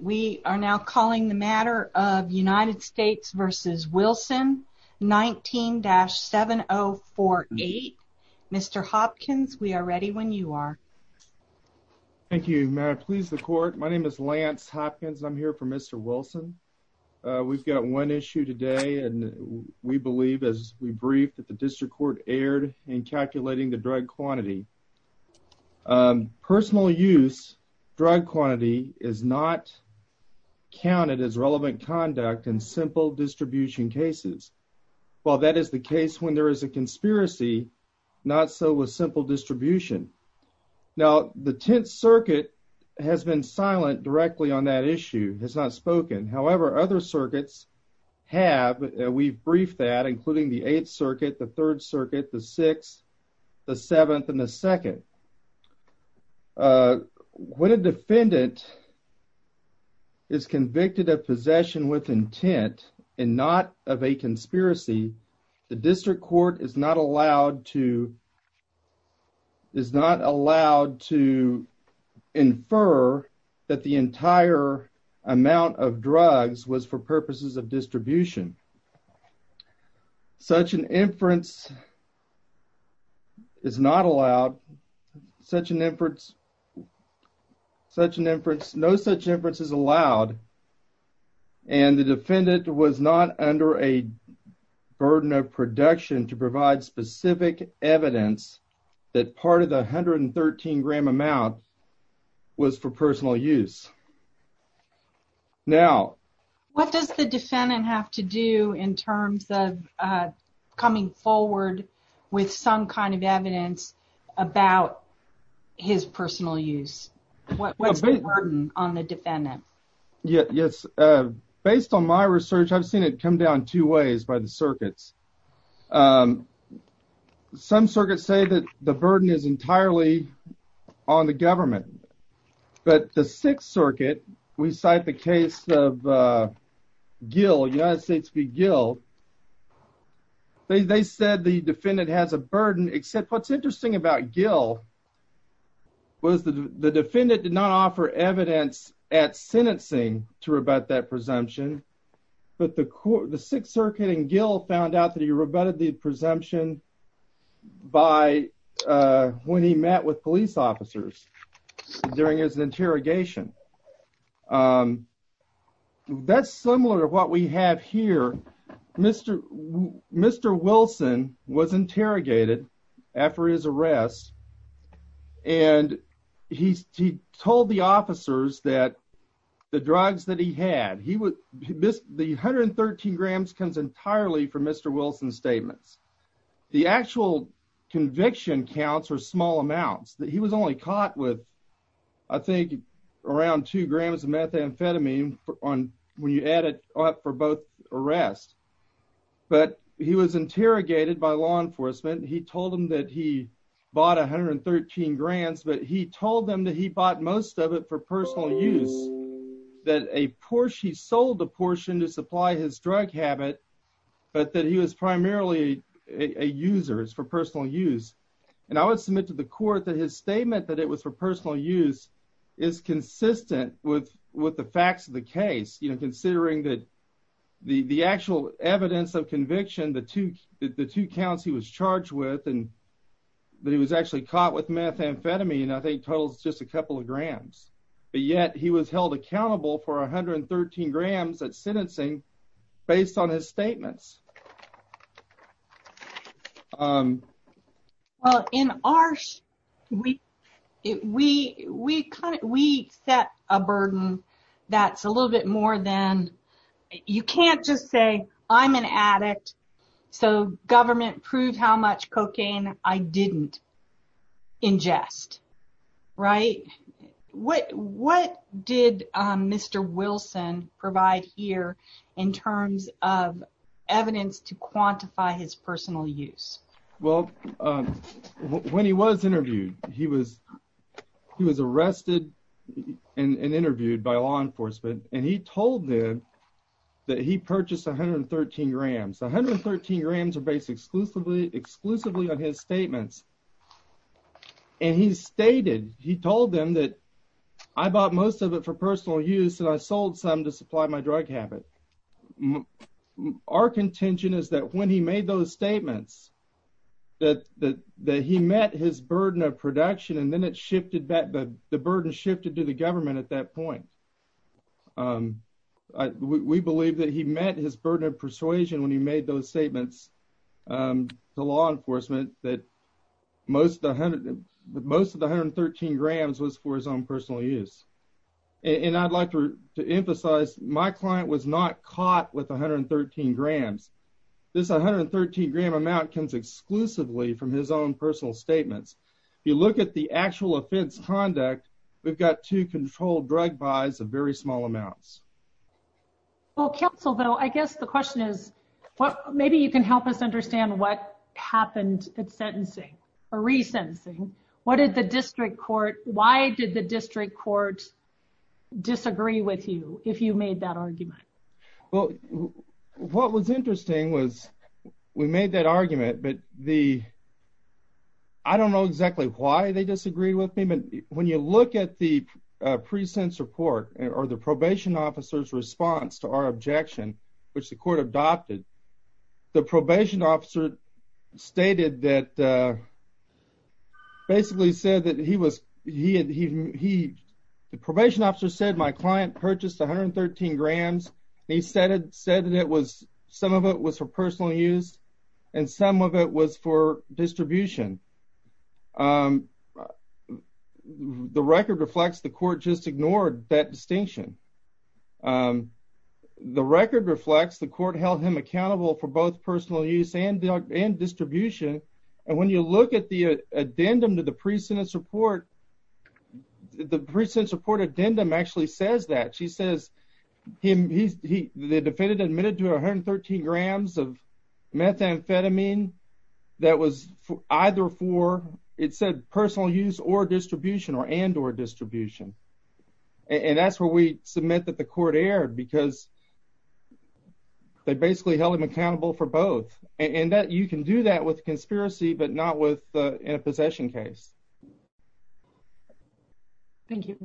We are now calling the matter of United States v. Wilson, 19-7048. Mr. Hopkins, we are ready when you are. Thank you, Mayor. Please, the Court. My name is Lance Hopkins. I'm here for Mr. Wilson. We've got one issue today, and we believe, as we briefed, that the District Court erred in calculating the drug quantity. Personal use drug quantity is not counted as relevant conduct in simple distribution cases. While that is the case when there is a conspiracy, not so with simple distribution. Now, the Tenth Circuit has been silent directly on that issue, has not spoken. However, other circuits have, and we've briefed that, including the Eighth Circuit, the Third Circuit, the Seventh, and the Second. When a defendant is convicted of possession with intent and not of a conspiracy, the District Court is not allowed to infer that the entire amount of drugs was for purposes of distribution. Such an inference is not allowed. No such inference is allowed, and the defendant was not under a burden of production to provide specific evidence that part of the 113-gram amount was for personal use. Now, what does the defendant have to do in terms of coming forward with some kind of evidence about his personal use? What's the burden on the defendant? Yes, based on my research, I've seen it come down two ways by the circuits. Some circuits say that the burden is entirely on the government, but the Sixth Circuit, we cite the case of Gil, United States v. Gil, they said the defendant has a burden, except what's interesting about Gil was the defendant did not offer evidence at sentencing to rebut that presumption, but the Sixth Circuit and Gil found out that he rebutted the presumption when he met with police officers during his interrogation. That's similar to what we have here. Mr. Wilson was interrogated after his arrest, and he told the officers that the 113-grams comes entirely from Mr. Wilson's statements. The actual conviction counts are small amounts. He was only caught with, I think, around two grams of methamphetamine when you add it up for both arrests, but he was interrogated by law enforcement. He told them that he bought most of it for personal use, that he sold a portion to supply his drug habit, but that he was primarily a user. It's for personal use, and I would submit to the court that his statement that it was for personal use is consistent with the facts of the case, considering that the actual evidence of conviction, the two counts he was charged with, and that he was actually caught with methamphetamine, I think, totals just a couple of grams, but yet he was held accountable for 113 grams at sentencing based on his statements. In ours, we set a burden that's a little bit more than, you can't just say, I'm an addict, so government proved how much cocaine I didn't ingest, right? What did Mr. Wilson provide here in terms of evidence to quantify his personal use? Well, when he was interviewed, he was arrested and interviewed by law enforcement, and he told them that he purchased 113 grams. 113 grams are based exclusively on his statements, and he stated, he told them that I bought most of it for personal use, and I sold some to supply my drug habit. Our contention is that when he made those statements, that he met his burden of production, and then it shifted back, the burden shifted to the government at that point. We believe that he met his burden of persuasion when he made those statements to law enforcement, that most of the 113 grams was for his own personal use. And I'd like to emphasize, my client was not caught with 113 grams. This 113 gram amount comes exclusively from his own personal statements. If you look at the actual offense conduct, we've got two controlled drug buys of very small amounts. Well, counsel, though, I guess the question is, maybe you can help us understand what happened at sentencing or resentencing. What did the district court, why did the district court disagree with you if you made that argument? Well, what was interesting was, we made that argument, but the, I don't know exactly why they disagreed with me, but when you look at the precense report, or the probation officer's response to our objection, which the court adopted, the probation officer stated that, basically said that he was, he, the probation officer said my client purchased 113 grams, and he said that it was, some of it was for personal use, and some of it was for distribution. The record reflects the court just ignored that distinction. The record reflects the court held him accountable for both personal use and distribution. And when you look at the addendum to the precense report, the precense report addendum actually says that. She says, the defendant admitted to 113 grams of methamphetamine that was either for, it said personal use or distribution, or and or distribution. And that's where we submit that the court erred, because they basically held him accountable for both. And that you can do that with conspiracy, but not with in a possession case. Thank you.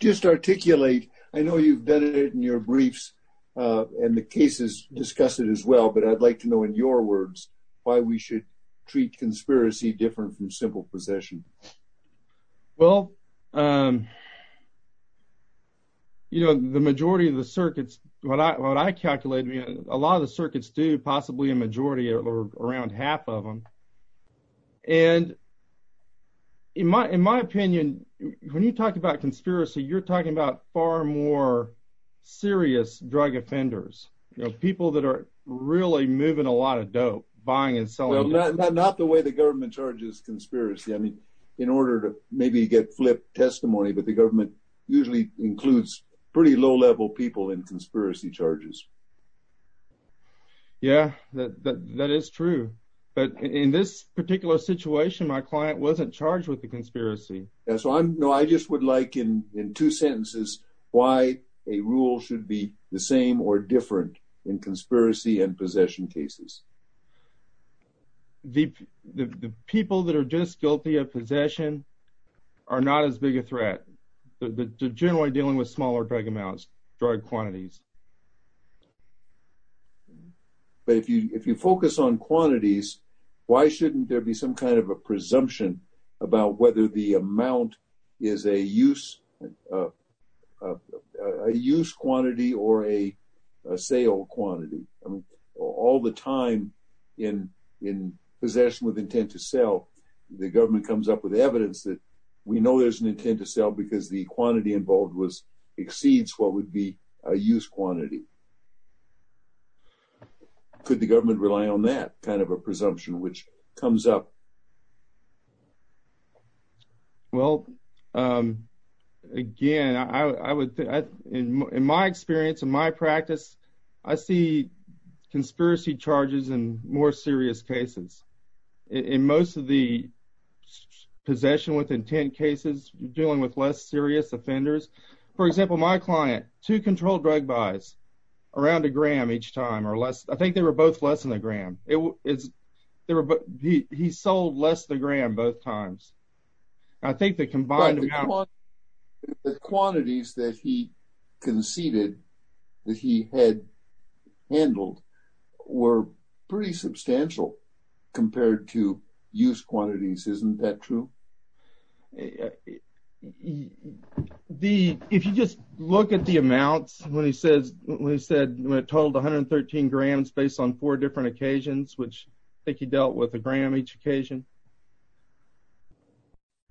Just articulate, I know you've done it in your briefs, and the cases discuss it as well, but I'd like to know in your words, why we should treat conspiracy different from simple possession. Well, you know, the majority of the circuits, what I, what I calculated, a lot of the circuits do, possibly a majority, or around half of them. And, you know, the majority of the circuits, and in my, in my opinion, when you talk about conspiracy, you're talking about far more serious drug offenders, you know, people that are really moving a lot of dope, buying and selling. Not the way the government charges conspiracy. I mean, in order to maybe get flip testimony, but the government usually includes pretty low level people in conspiracy charges. Yeah, that is true. But in this particular situation, my client wasn't charged with the conspiracy. And so I'm no, I just would like in two sentences, why a rule should be the same or different in conspiracy and possession cases. The people that are just guilty of possession are not as big a threat. The generally dealing with smaller drug amounts, drug quantities. But if you, if you focus on quantities, why shouldn't there be some kind of a presumption about whether the amount is a use, a use quantity or a sale quantity? I mean, all the time in, in possession with intent to sell, the government comes up with evidence that we know there's an intent to sell because the quantity involved was exceeds what would be a use quantity. Could the government rely on that kind of a presumption, which comes up? Well, again, I would, in my experience, in my practice, I see conspiracy charges and more serious cases. In most of the possession with intent cases dealing with less serious offenders. For example, my client, two controlled drug buys around a gram each time or less. I think they were both less than a gram. He sold less than a gram both times. I think the combined quantities that he conceded that he had handled were pretty substantial compared to use quantities. Isn't that true? If you just look at the amounts, when he says, when he said, when it totaled 113 grams based on four different occasions, which I think he dealt with a gram each occasion,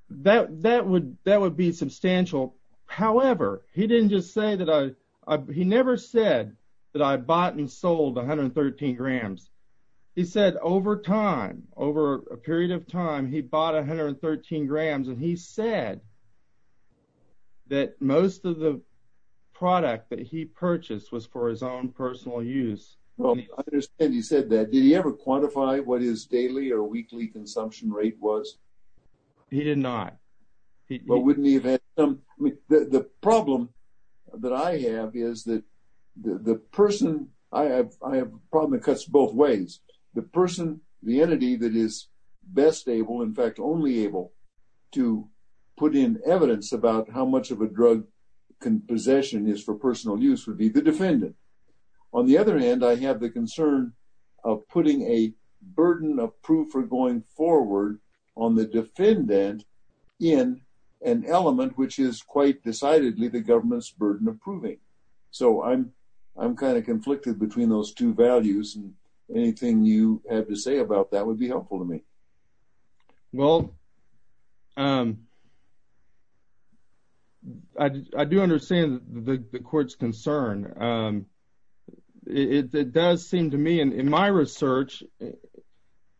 that, that would, that would be substantial. However, he didn't just say that I, he never said that I bought and sold 113 grams. He said over time, over a period of time, he bought 113 grams and he said that most of the product that he purchased was for his own personal use. Well, I understand you said that. Did he ever quantify what his daily or weekly consumption rate was? He did not. The problem that I have is that the person I have, I have a problem that cuts both ways. The person, the entity that is best able, in fact, only able to put in evidence about how much of a drug possession is for personal use would be the defendant. On the other hand, I have the concern of putting a burden of proof for going forward on the defendant in an element, which is quite decidedly the government's burden approving. So I'm, I'm kind of conflicted between those two values. And anything you have to say about that would be helpful to me. Well, I do understand the court's concern. It does seem to me, in my research,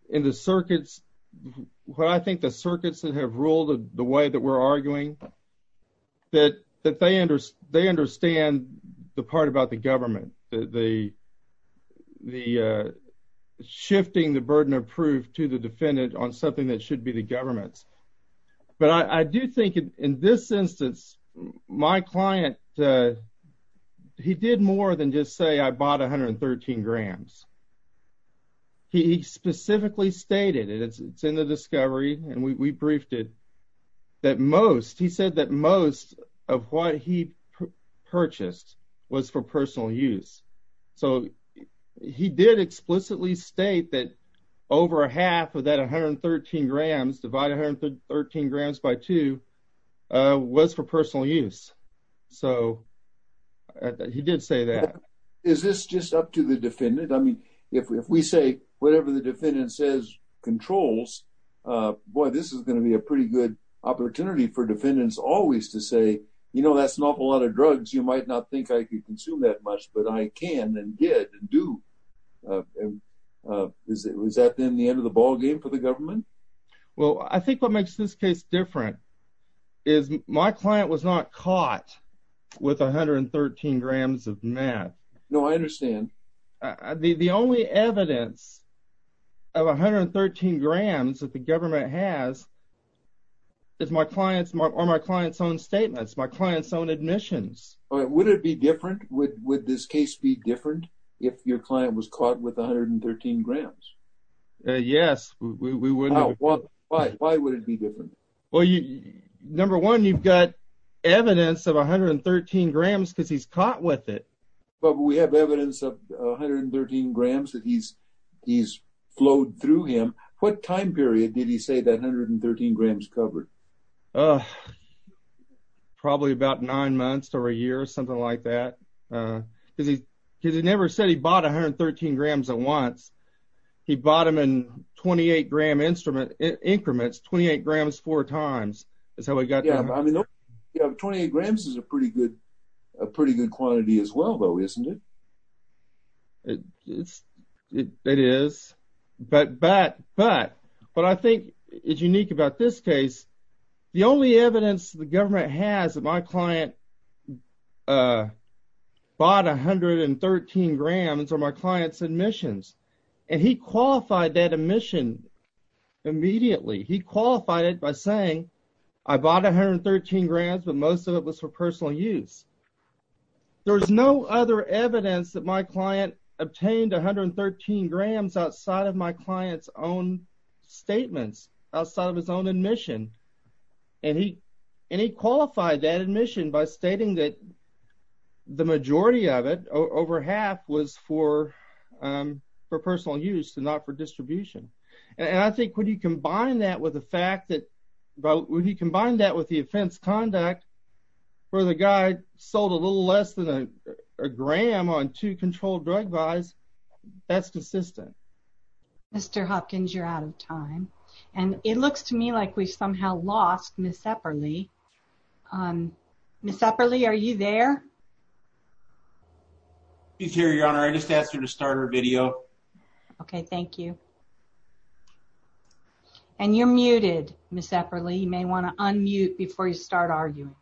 in the circuits, what I think the circuits that have ruled the way that we're arguing, that they understand the part about the government, the shifting the burden of proof to the defendant on something that should be the government's. But I do think in this instance, my client, he did more than just say I bought 113 grams. He specifically stated it, it's in the discovery, and we briefed it, that most, he said that most of what he purchased was for personal use. So he did explicitly state that over half of that 113 grams divided 113 grams by two was for personal use. So he did say that. Is this just up to the defendant? I mean, if we say whatever the defendant says controls, boy, this is going to be a pretty good opportunity for defendants always to say, you know, that's an awful lot of drugs, you might not think I could consume that much, but I can and did and do. Is that then the end of the ballgame for the government? Well, I think what makes this case different is my client was not caught with 113 grams of meth. No, I understand. The only evidence of 113 grams that the government has is my client's, or my client's own statements, my client's own admissions. Would it be different? Would this case be different if your client was caught with 113 grams? Yes. Why would it be different? Well, number one, you've got evidence of 113 grams because he's caught with it. But we have evidence of 113 grams that he's flowed through him. What time period did he say that 113 grams covered? Probably about nine months or a year, something like that. Because he never said he bought 113 grams at once. He bought them in 28 gram instrument increments, 28 grams four times. 28 grams is a pretty good quantity as well, though, isn't it? It is. But what I think is unique about this case, the only evidence the government has that my client bought 113 grams are my client's admissions. And he qualified that admission immediately. He qualified it by saying, I bought 113 grams, but most of it was for personal use. There's no other evidence that my client obtained 113 grams outside of my client's own statements, outside of his own admission. And he qualified that admission by stating that the majority of it, over half, was for personal use and not for distribution. And I think when you combine that with the fact that, when you combine that with the offense conduct, where the guy sold a little less than a gram on two controlled drug buys, that's consistent. Mr. Hopkins, you're out of time. And it looks to me like we've somehow lost Ms. Epperle. Ms. Epperle, are you there? She's here, Your Honor. I just asked her to start her video. Okay, thank you. And you're muted, Ms. Epperle. You may want to unmute before you start arguing.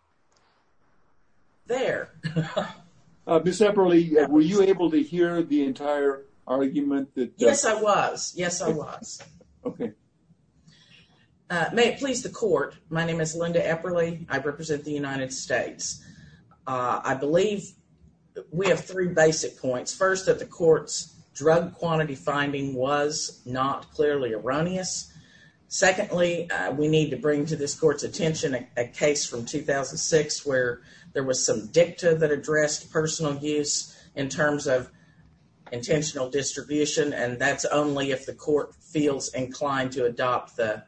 There. Ms. Epperle, were you able to hear the entire argument that- Yes, I was. Yes, I was. Okay. May it please the court, my name is Linda Epperle. I represent the United States. I believe we have three basic points. First, that the court's drug quantity finding was not clearly erroneous. Secondly, we need to bring to this court's attention a case from 2006 where there was some dicta that addressed personal use in terms of intentional distribution. And that's only if the court feels inclined to adopt the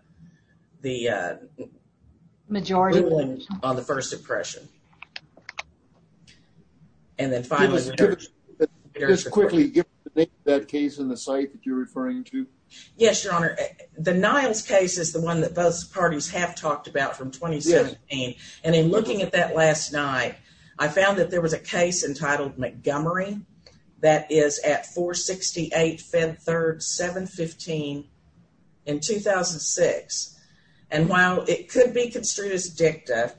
majority ruling on the first impression. Just quickly, give me the name of that case in the site that you're referring to. Yes, Your Honor. The Niles case is the one that both parties have talked about from 2017. And in looking at that last night, I found that there was a case entitled Montgomery that is at 468 Fed Third 715 in 2006. And while it could be construed as dicta,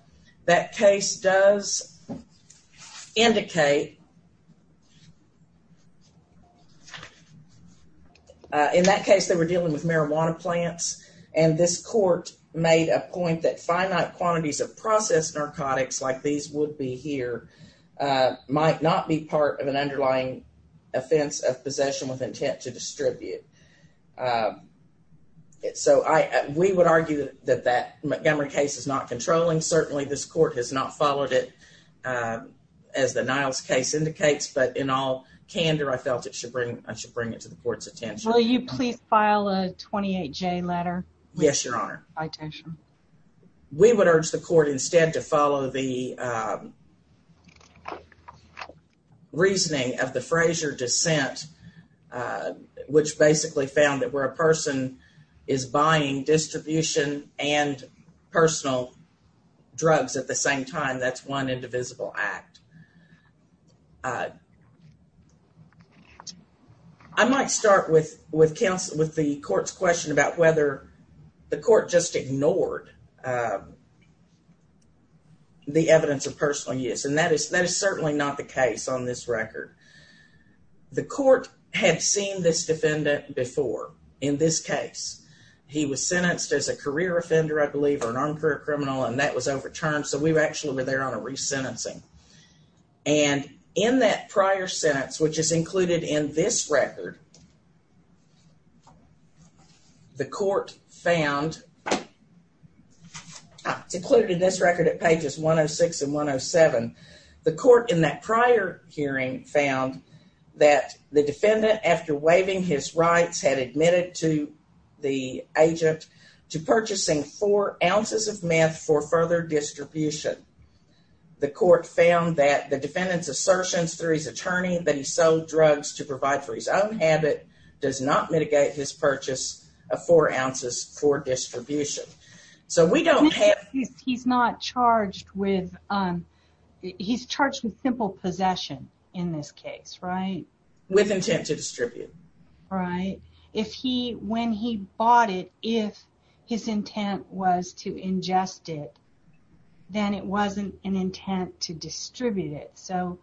that case does indicate, in that case, they were dealing with marijuana plants. And this court made a point that finite quantities of processed narcotics like these would be here might not be part of an underlying drug. So, we would argue that that Montgomery case is not controlling. Certainly, this court has not followed it as the Niles case indicates. But in all candor, I felt I should bring it to the court's attention. Will you please file a 28-J letter? Yes, Your Honor. We would urge the court instead to follow the reasoning of the Frazier dissent, which basically found that where a person is buying distribution and personal drugs at the same time, that's one indivisible act. I might start with the court's question about whether the court just ignored the evidence of personal use. And that is certainly not the case on this record. The court had seen this defendant before in this case. He was sentenced as a career offender, I believe, or an on-career criminal. And that was overturned. So, we've actually been there on a resentencing. And in that prior sentence, which is included in this record, the court found, it's included in this record at pages 106 and 107, the court in that prior hearing found that the defendant, after waiving his rights, had admitted to the agent to purchasing four ounces of meth for further distribution. The court found that the defendant's assertions through his habit does not mitigate his purchase of four ounces for distribution. He's not charged with, he's charged with simple possession in this case, right? With intent to distribute. Right. If he, when he bought it, if his intent was to ingest it, then it wasn't an intent to distribute it. So,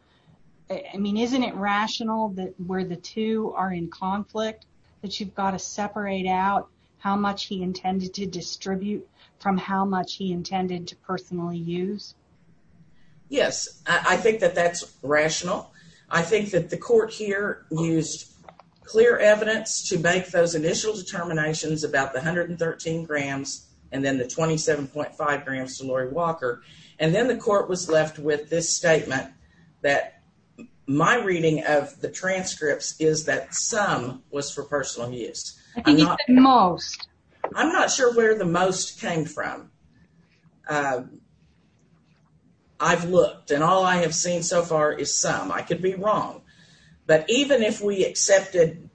I mean, isn't it rational that where the two are in conflict, that you've got to separate out how much he intended to distribute from how much he intended to personally use? Yes. I think that that's rational. I think that the court here used clear evidence to make those initial determinations about the 113 grams, and then the 27.5 grams to Lori Walker. And then the court was left with this statement that my reading of the transcripts is that some was for personal use. I think it's the most. I'm not sure where the most came from. I've looked and all I have seen so far is some. I could be wrong. But even if we accepted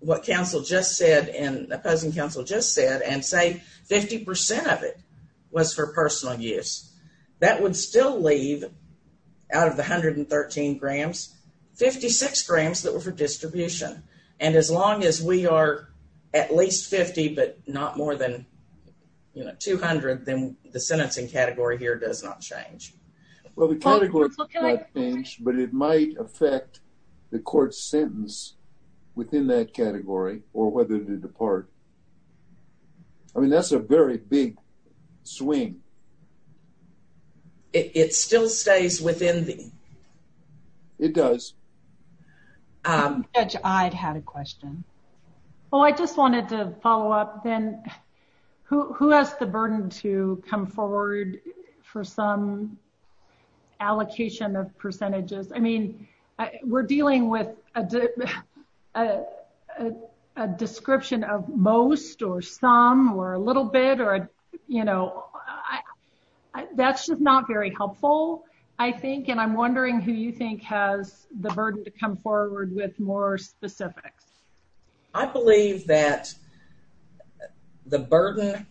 what counsel just said and opposing counsel just said and say 50 percent of it was for personal use, that would still leave, out of the 113 grams, 56 grams that were for distribution. And as long as we are at least 50 but not more than, you know, 200, then the sentencing category here does not change. Well, the category might change, but it might affect the court's sentence within that category or whether to depart. I mean, that's a very big swing. It still stays within the... It does. I had a question. Oh, I just wanted to follow up then. Who has the burden to come forward for some allocation of percentages? I mean, we're dealing with a description of most or some or a little bit or, you know, that's just not very helpful, I think. And I'm wondering who you think has the burden to come forward with more specifics. I believe that the burden,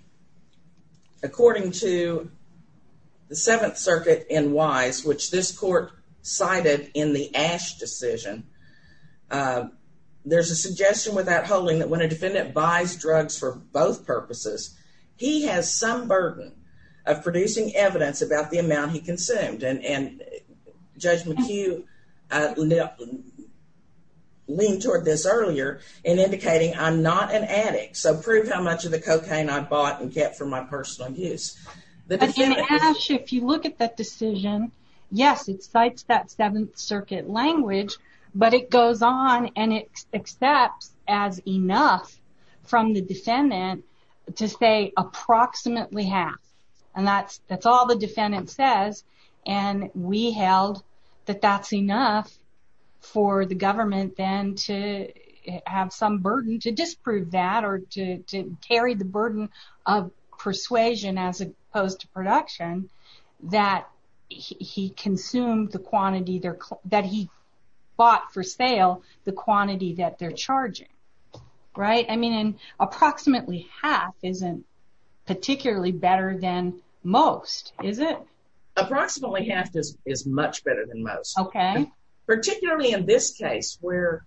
according to the Seventh Circuit in Wise, which this court cited in the Ashe decision, there's a suggestion without holding that when a defendant buys drugs for both purposes, he has some burden of producing evidence about the amount he consumed. And Judge McHugh leaned toward this earlier in indicating, I'm not an addict, so prove how much of the cocaine I bought and kept for my personal use. But in Ashe, if you look at that decision, yes, it cites that Seventh Circuit language, but it goes on and it accepts as enough from the defendant to say approximately half. And that's all the defendant says, and we held that that's enough for the government then to have some burden to disprove that or to carry the burden of persuasion as opposed to production that he consumed the quantity that he bought for sale, the quantity that they're charging. Right. I mean, approximately half isn't particularly better than most, is it? Approximately half is much better than most. Okay. Particularly in this case where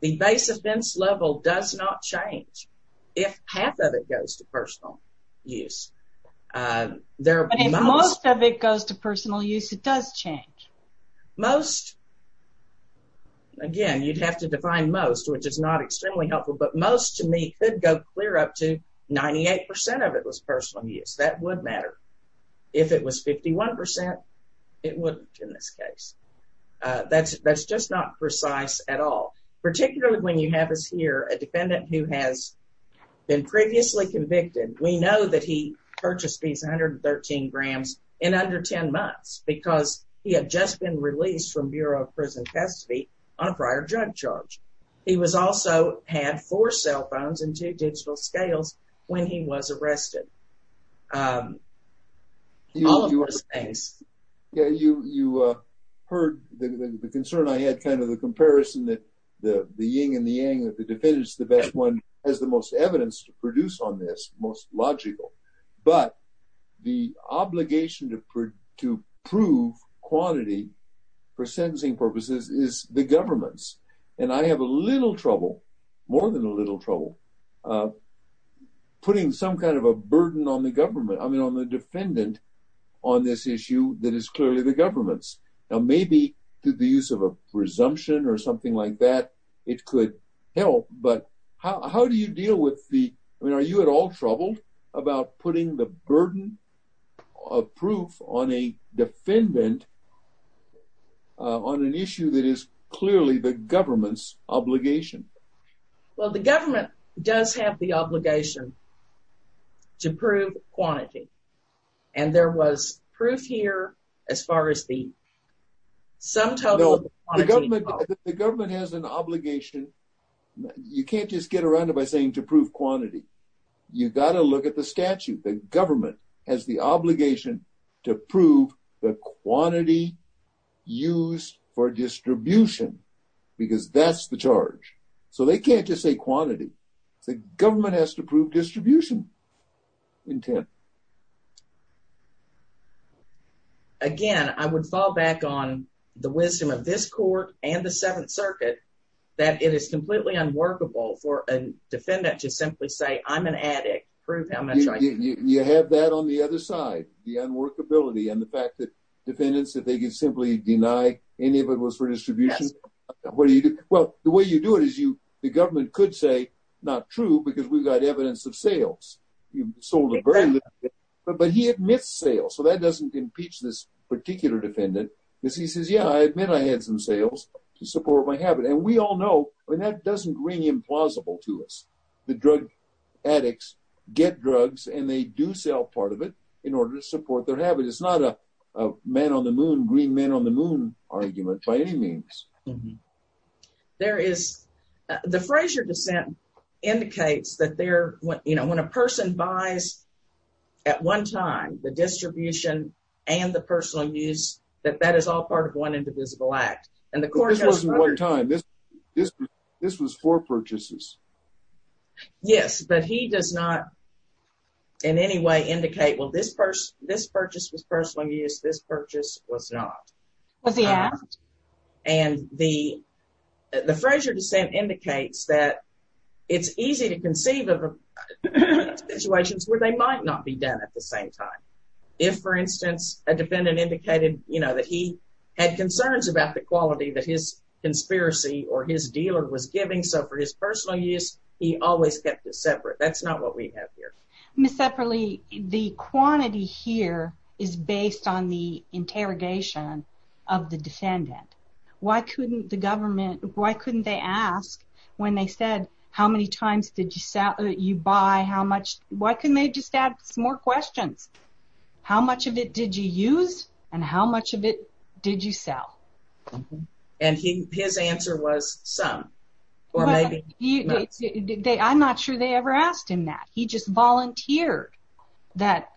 the base offense level does not change if half of it goes to personal use. But if most of it goes to personal use, it does change. Most, again, you'd have to define most, which is not extremely helpful, but most to me could go clear up to 98% of it was personal use. That would matter. If it was 51%, it wouldn't in this case. That's just not precise at all. Particularly when you have us here, a defendant who has been previously convicted, we know that he purchased these 113 grams in under 10 months because he had just been released from Bureau of Prison Custody on a prior drug charge. He was also had four cell phones and two digital scales when he was arrested. All of those things. Yeah, you heard the concern I had kind of the comparison that the yin and the yang, that the defendant's the best one has the most evidence to produce on this, most logical. But the obligation to prove quantity for sentencing purposes is the government's. And I have a little trouble, more than a little trouble, putting some kind of a burden on the government. I mean, on the defendant on this issue that is clearly the government's. Now, maybe to the use of a presumption or something like that, it could help. But how do you deal with the, I mean, putting the burden of proof on a defendant on an issue that is clearly the government's obligation? Well, the government does have the obligation to prove quantity. And there was proof here as far as the sum total. The government has an obligation. You can't just get around it saying to prove quantity. You got to look at the statute. The government has the obligation to prove the quantity used for distribution because that's the charge. So they can't just say quantity. The government has to prove distribution intent. Again, I would fall back on the wisdom of this court and the Seventh Circuit that it is completely unworkable for a defendant to simply say, I'm an addict, prove how much I can. You have that on the other side, the unworkability and the fact that defendants, if they could simply deny any of it was for distribution, what do you do? Well, the way you do it is you, the government could say, not true because we've got evidence of sales. You sold a very little. But he admits sales. So that doesn't impeach this particular defendant. Because he says, yeah, I admit I had some sales to support my habit. And we all know, I mean, that doesn't ring implausible to us. The drug addicts get drugs and they do sell part of it in order to support their habit. It's not a man on the moon, green man on the moon argument by any means. There is, the Frazier dissent indicates that there, when a person buys at one time, the distribution and the personal use, that that is all part of one indivisible act. And the court goes one time, this, this, this was for purchases. Yes, but he does not in any way indicate, well, this person, this purchase was personal use. This purchase was not. And the, the Frazier dissent indicates that it's easy to conceive of situations where they might not be done at the same time. If for instance, a defendant indicated, you know, that he had concerns about the quality that his conspiracy or his dealer was giving. So for his personal use, he always kept it separate. That's not what we have here. Ms. Epperle, the quantity here is based on the interrogation of the defendant. Why couldn't the government, why couldn't they ask when they said, how many times did you sell, you buy, how much, why couldn't they just ask more questions? How much of it did you use? And how much of it did you sell? And his answer was some. I'm not sure they ever asked him that. He just volunteered that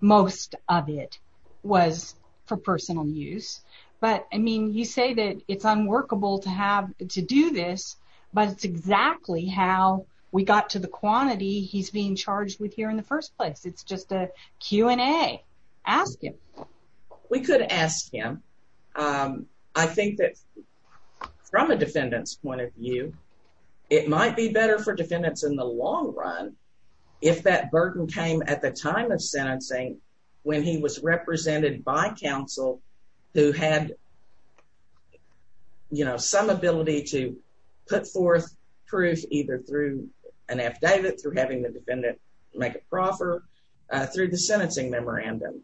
most of it was for personal use. But I mean, you say that it's unworkable to have to do this, but it's exactly how we got to the quantity he's being charged with here in the first place. It's just a Q and A, ask him. We could ask him. I think that from a defendant's point of view, it might be better for defendants in the long run. If that burden came at the time of sentencing, when he was represented by counsel who had, you know, some ability to put forth proof, either through an affidavit, through having the defendant make a proffer, through the sentencing memorandum,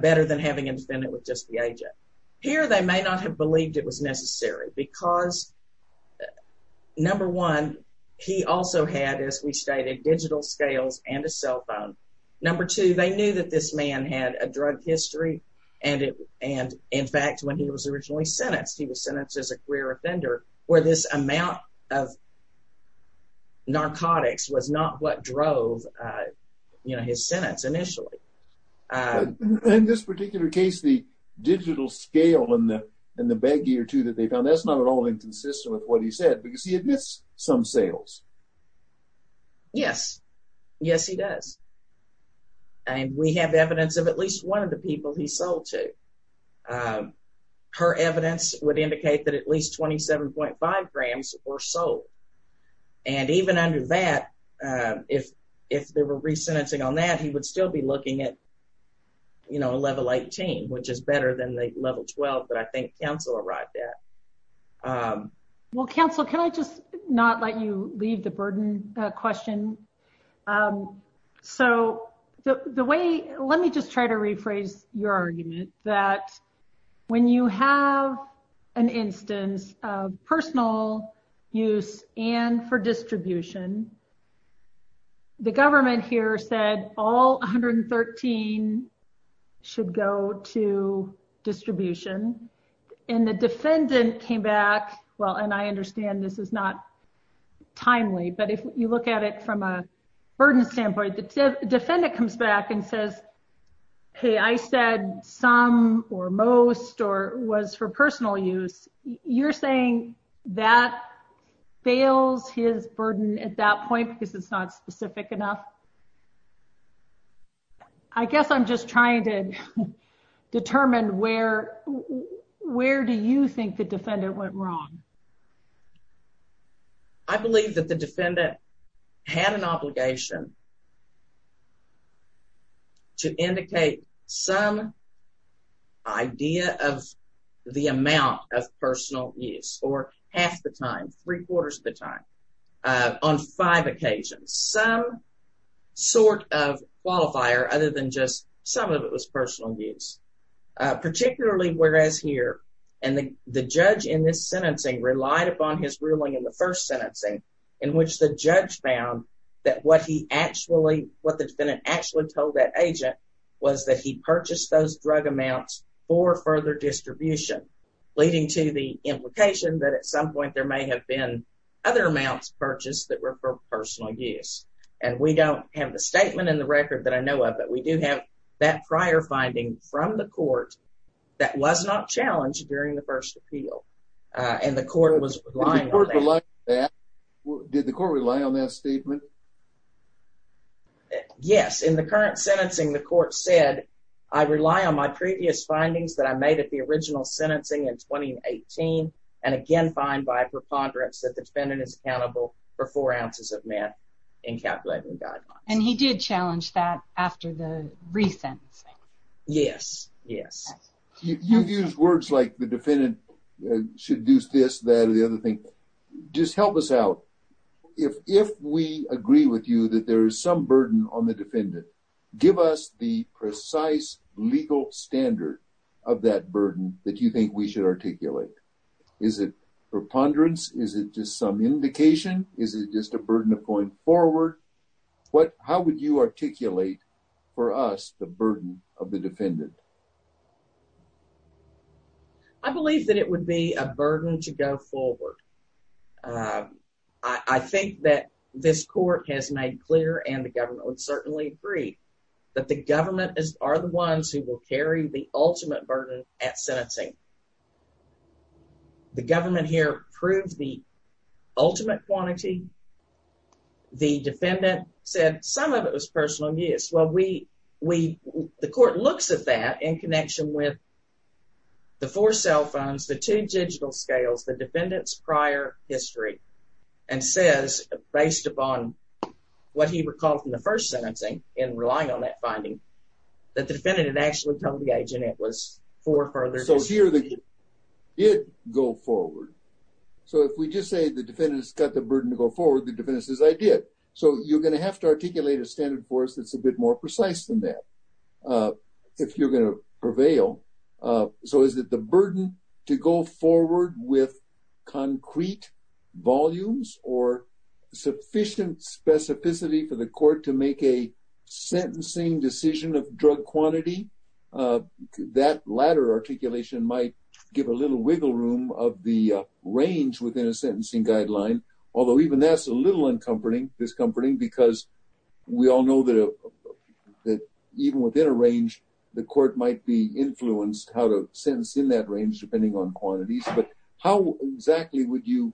better than having a defendant with just the agent. Here, they may not have believed it was necessary because, number one, he also had, as we stated, digital scales and a cell phone. Number two, they knew that this man had a drug history. And in fact, when he was originally sentenced, he was sentenced as a queer offender where this amount of narcotics was not what drove, you know, his sentence initially. In this particular case, the digital scale and the baggie or two that they found, that's not at all inconsistent with what he said because he admits some sales. Yes. Yes, he does. And we have evidence of at least one of the people he sold to. Her evidence would indicate that at least 27.5 grams were sold. And even under that, if there were resentencing on that, he would still be looking at, you know, a level 18, which is better than the level 12 that I think counsel arrived at. Well, counsel, can I just not let you leave the burden question? So the way, let me just try to rephrase your argument that when you have an instance of personal use and for distribution, the government here said all 113 should go to distribution. And the defendant came back. Well, and I understand this is not timely, but if you look at it from a burden standpoint, the defendant comes back and says, Hey, I said some or most or was for personal use. You're saying that fails his burden at that point, because it's not specific enough. I guess I'm just trying to determine where, where do you think the defendant went wrong? I believe that the defendant had an obligation to indicate some idea of the amount of personal use or half the time, three quarters of the time, on five occasions, some sort of qualifier other than just some of it was personal use, particularly whereas here, and the judge in this sentencing relied upon his ruling in the first sentencing, in which the judge found that what he actually what the defendant actually told that agent was that he purchased those drug amounts for further distribution, leading to the implication that at some point, there may have been other amounts purchased that were for personal use. And we don't have the statement in the record that I know of, but we do have that prior finding from the court that was not challenged during the first appeal. And the court was blind. Did the court rely on that statement? Yes, in the current sentencing, the court said, I rely on my previous findings that I made at the original sentencing in 2018. And again, find by preponderance that the defendant is accountable for four ounces of meth in calculating guidelines. And he did challenge that after the recent. Yes, yes. You've used words like the defendant should do this, that or the other thing. Just help us out. If we agree with you that there is some burden on the defendant, give us the precise legal standard of that burden that you think we should articulate. Is it preponderance? Is it just some indication? Is it just a burden of going forward? What, how would you articulate for us the burden of the defendant? I believe that it would be a burden to go forward. I think that this court has made clear and the government would certainly agree that the government is, are the ones who will carry the ultimate burden at sentencing. The government here proved the ultimate quantity. The defendant said some of it was personal abuse. Well, we, we, the court looks at that in connection with the four cell phones, the two digital scales, the defendant's prior history, and says, based upon what he recalled from the first sentencing and relying on that finding, that the defendant had actually told the agent it was four further. So here the, it go forward. So if we just say the defendant's got the burden to go forward, the defendant says I did. So you're going to have to articulate a standard for us. That's a bit more precise than that. If you're going to prevail. So is it the burden to go forward with concrete volumes or sufficient specificity for the court to make a sentencing decision of drug quantity? That latter articulation might give a little wiggle room of the range within a sentencing guideline. Although even that's a little uncomforting, discomforting, because we all know that even within a range, the court might be influenced how to sentence in that range, depending on quantities, but how exactly would you,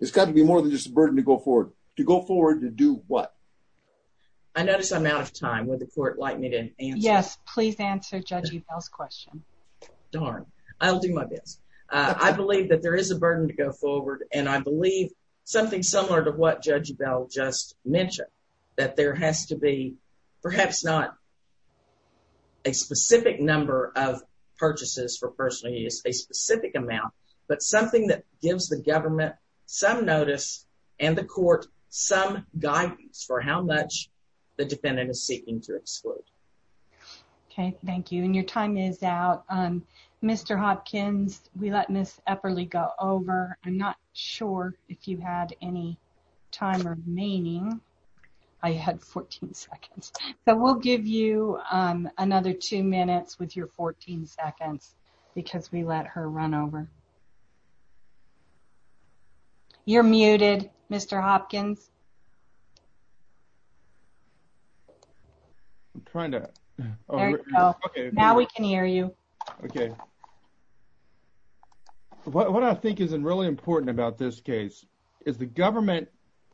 it's got to be more than just to go forward to do what? I noticed I'm out of time. Would the court like me to answer? Yes, please answer Judge Ebell's question. Darn, I'll do my best. I believe that there is a burden to go forward. And I believe something similar to what Judge Ebell just mentioned, that there has to be perhaps not a specific number of purchases for personal use, a specific amount, but something that gives the court some guidance for how much the defendant is seeking to exclude. Okay, thank you. And your time is out. Mr. Hopkins, we let Ms. Epperle go over. I'm not sure if you had any time remaining. I had 14 seconds. So we'll give you another two minutes with your 14 seconds because we let her run over. You're muted, Mr. Hopkins. I'm trying to. There you go. Now we can hear you. Okay. What I think is really important about this case is the government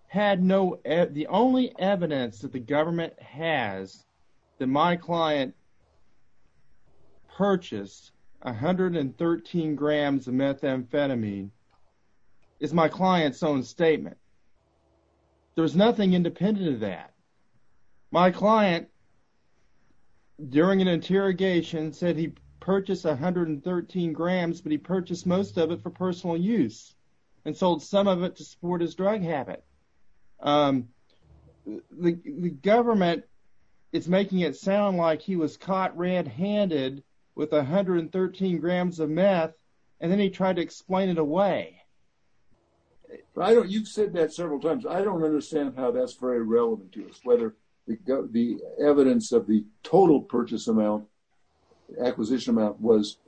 had no, the only evidence that government has that my client purchased 113 grams of methamphetamine is my client's own statement. There's nothing independent of that. My client during an interrogation said he purchased 113 grams, but he purchased most of it for personal use and sold some of it to support his government. It's making it sound like he was caught red handed with 113 grams of meth. And then he tried to explain it away. I don't, you've said that several times. I don't understand how that's very relevant to us, whether the evidence of the total purchase amount acquisition amount was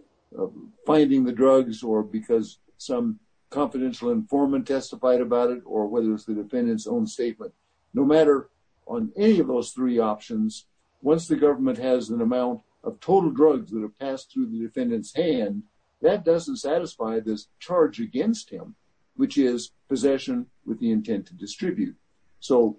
finding the drugs or because some confidential informant testified about it, whether it's the defendant's own statement, no matter on any of those three options, once the government has an amount of total drugs that have passed through the defendant's hand, that doesn't satisfy this charge against him, which is possession with the intent to distribute. So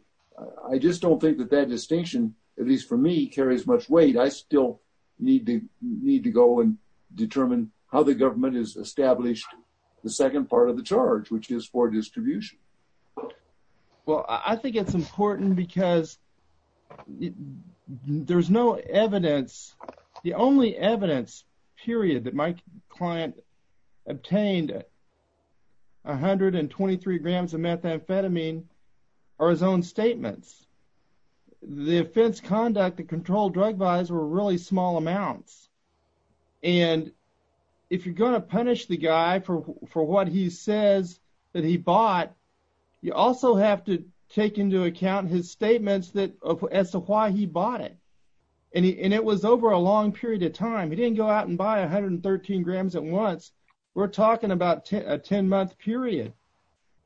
I just don't think that that distinction, at least for me, carries much weight. I still need to go and determine how the government has established the second part of the charge, which is for distribution. Well, I think it's important because there's no evidence. The only evidence period that my client obtained 123 grams of methamphetamine or his own statements, the offense conduct, the control drug buys were really small amounts. And if you're going to punish the guy for what he says that he bought, you also have to take into account his statements that as to why he bought it. And it was over a long period of time. He didn't go out and buy 113 grams at once. We're talking about a 10 month period.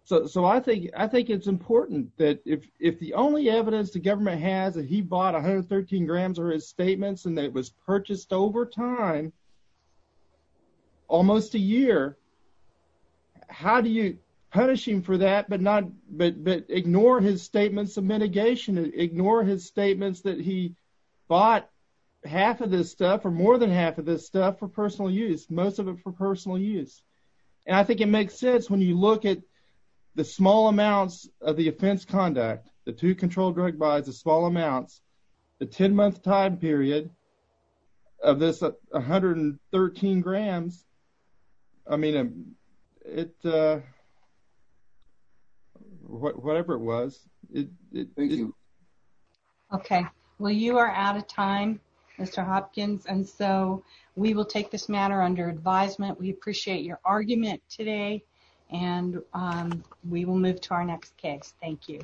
So I think it's important that if the only evidence the government has that he bought 113 grams or his statements and that was purchased over time, almost a year, how do you punish him for that, but ignore his statements of mitigation, ignore his statements that he bought half of this stuff or more than half of this stuff for personal use, most of it for personal use. And I think it makes sense when you look at the small amounts of the offense conduct, the two control drug buys, the small amounts, the 10 month time period of this 113 grams. I mean, whatever it was. Okay. Well, you are out of time, Mr. Hopkins. And so we will take this matter under advisement. We appreciate your argument today and we will move to our next case. Thank you.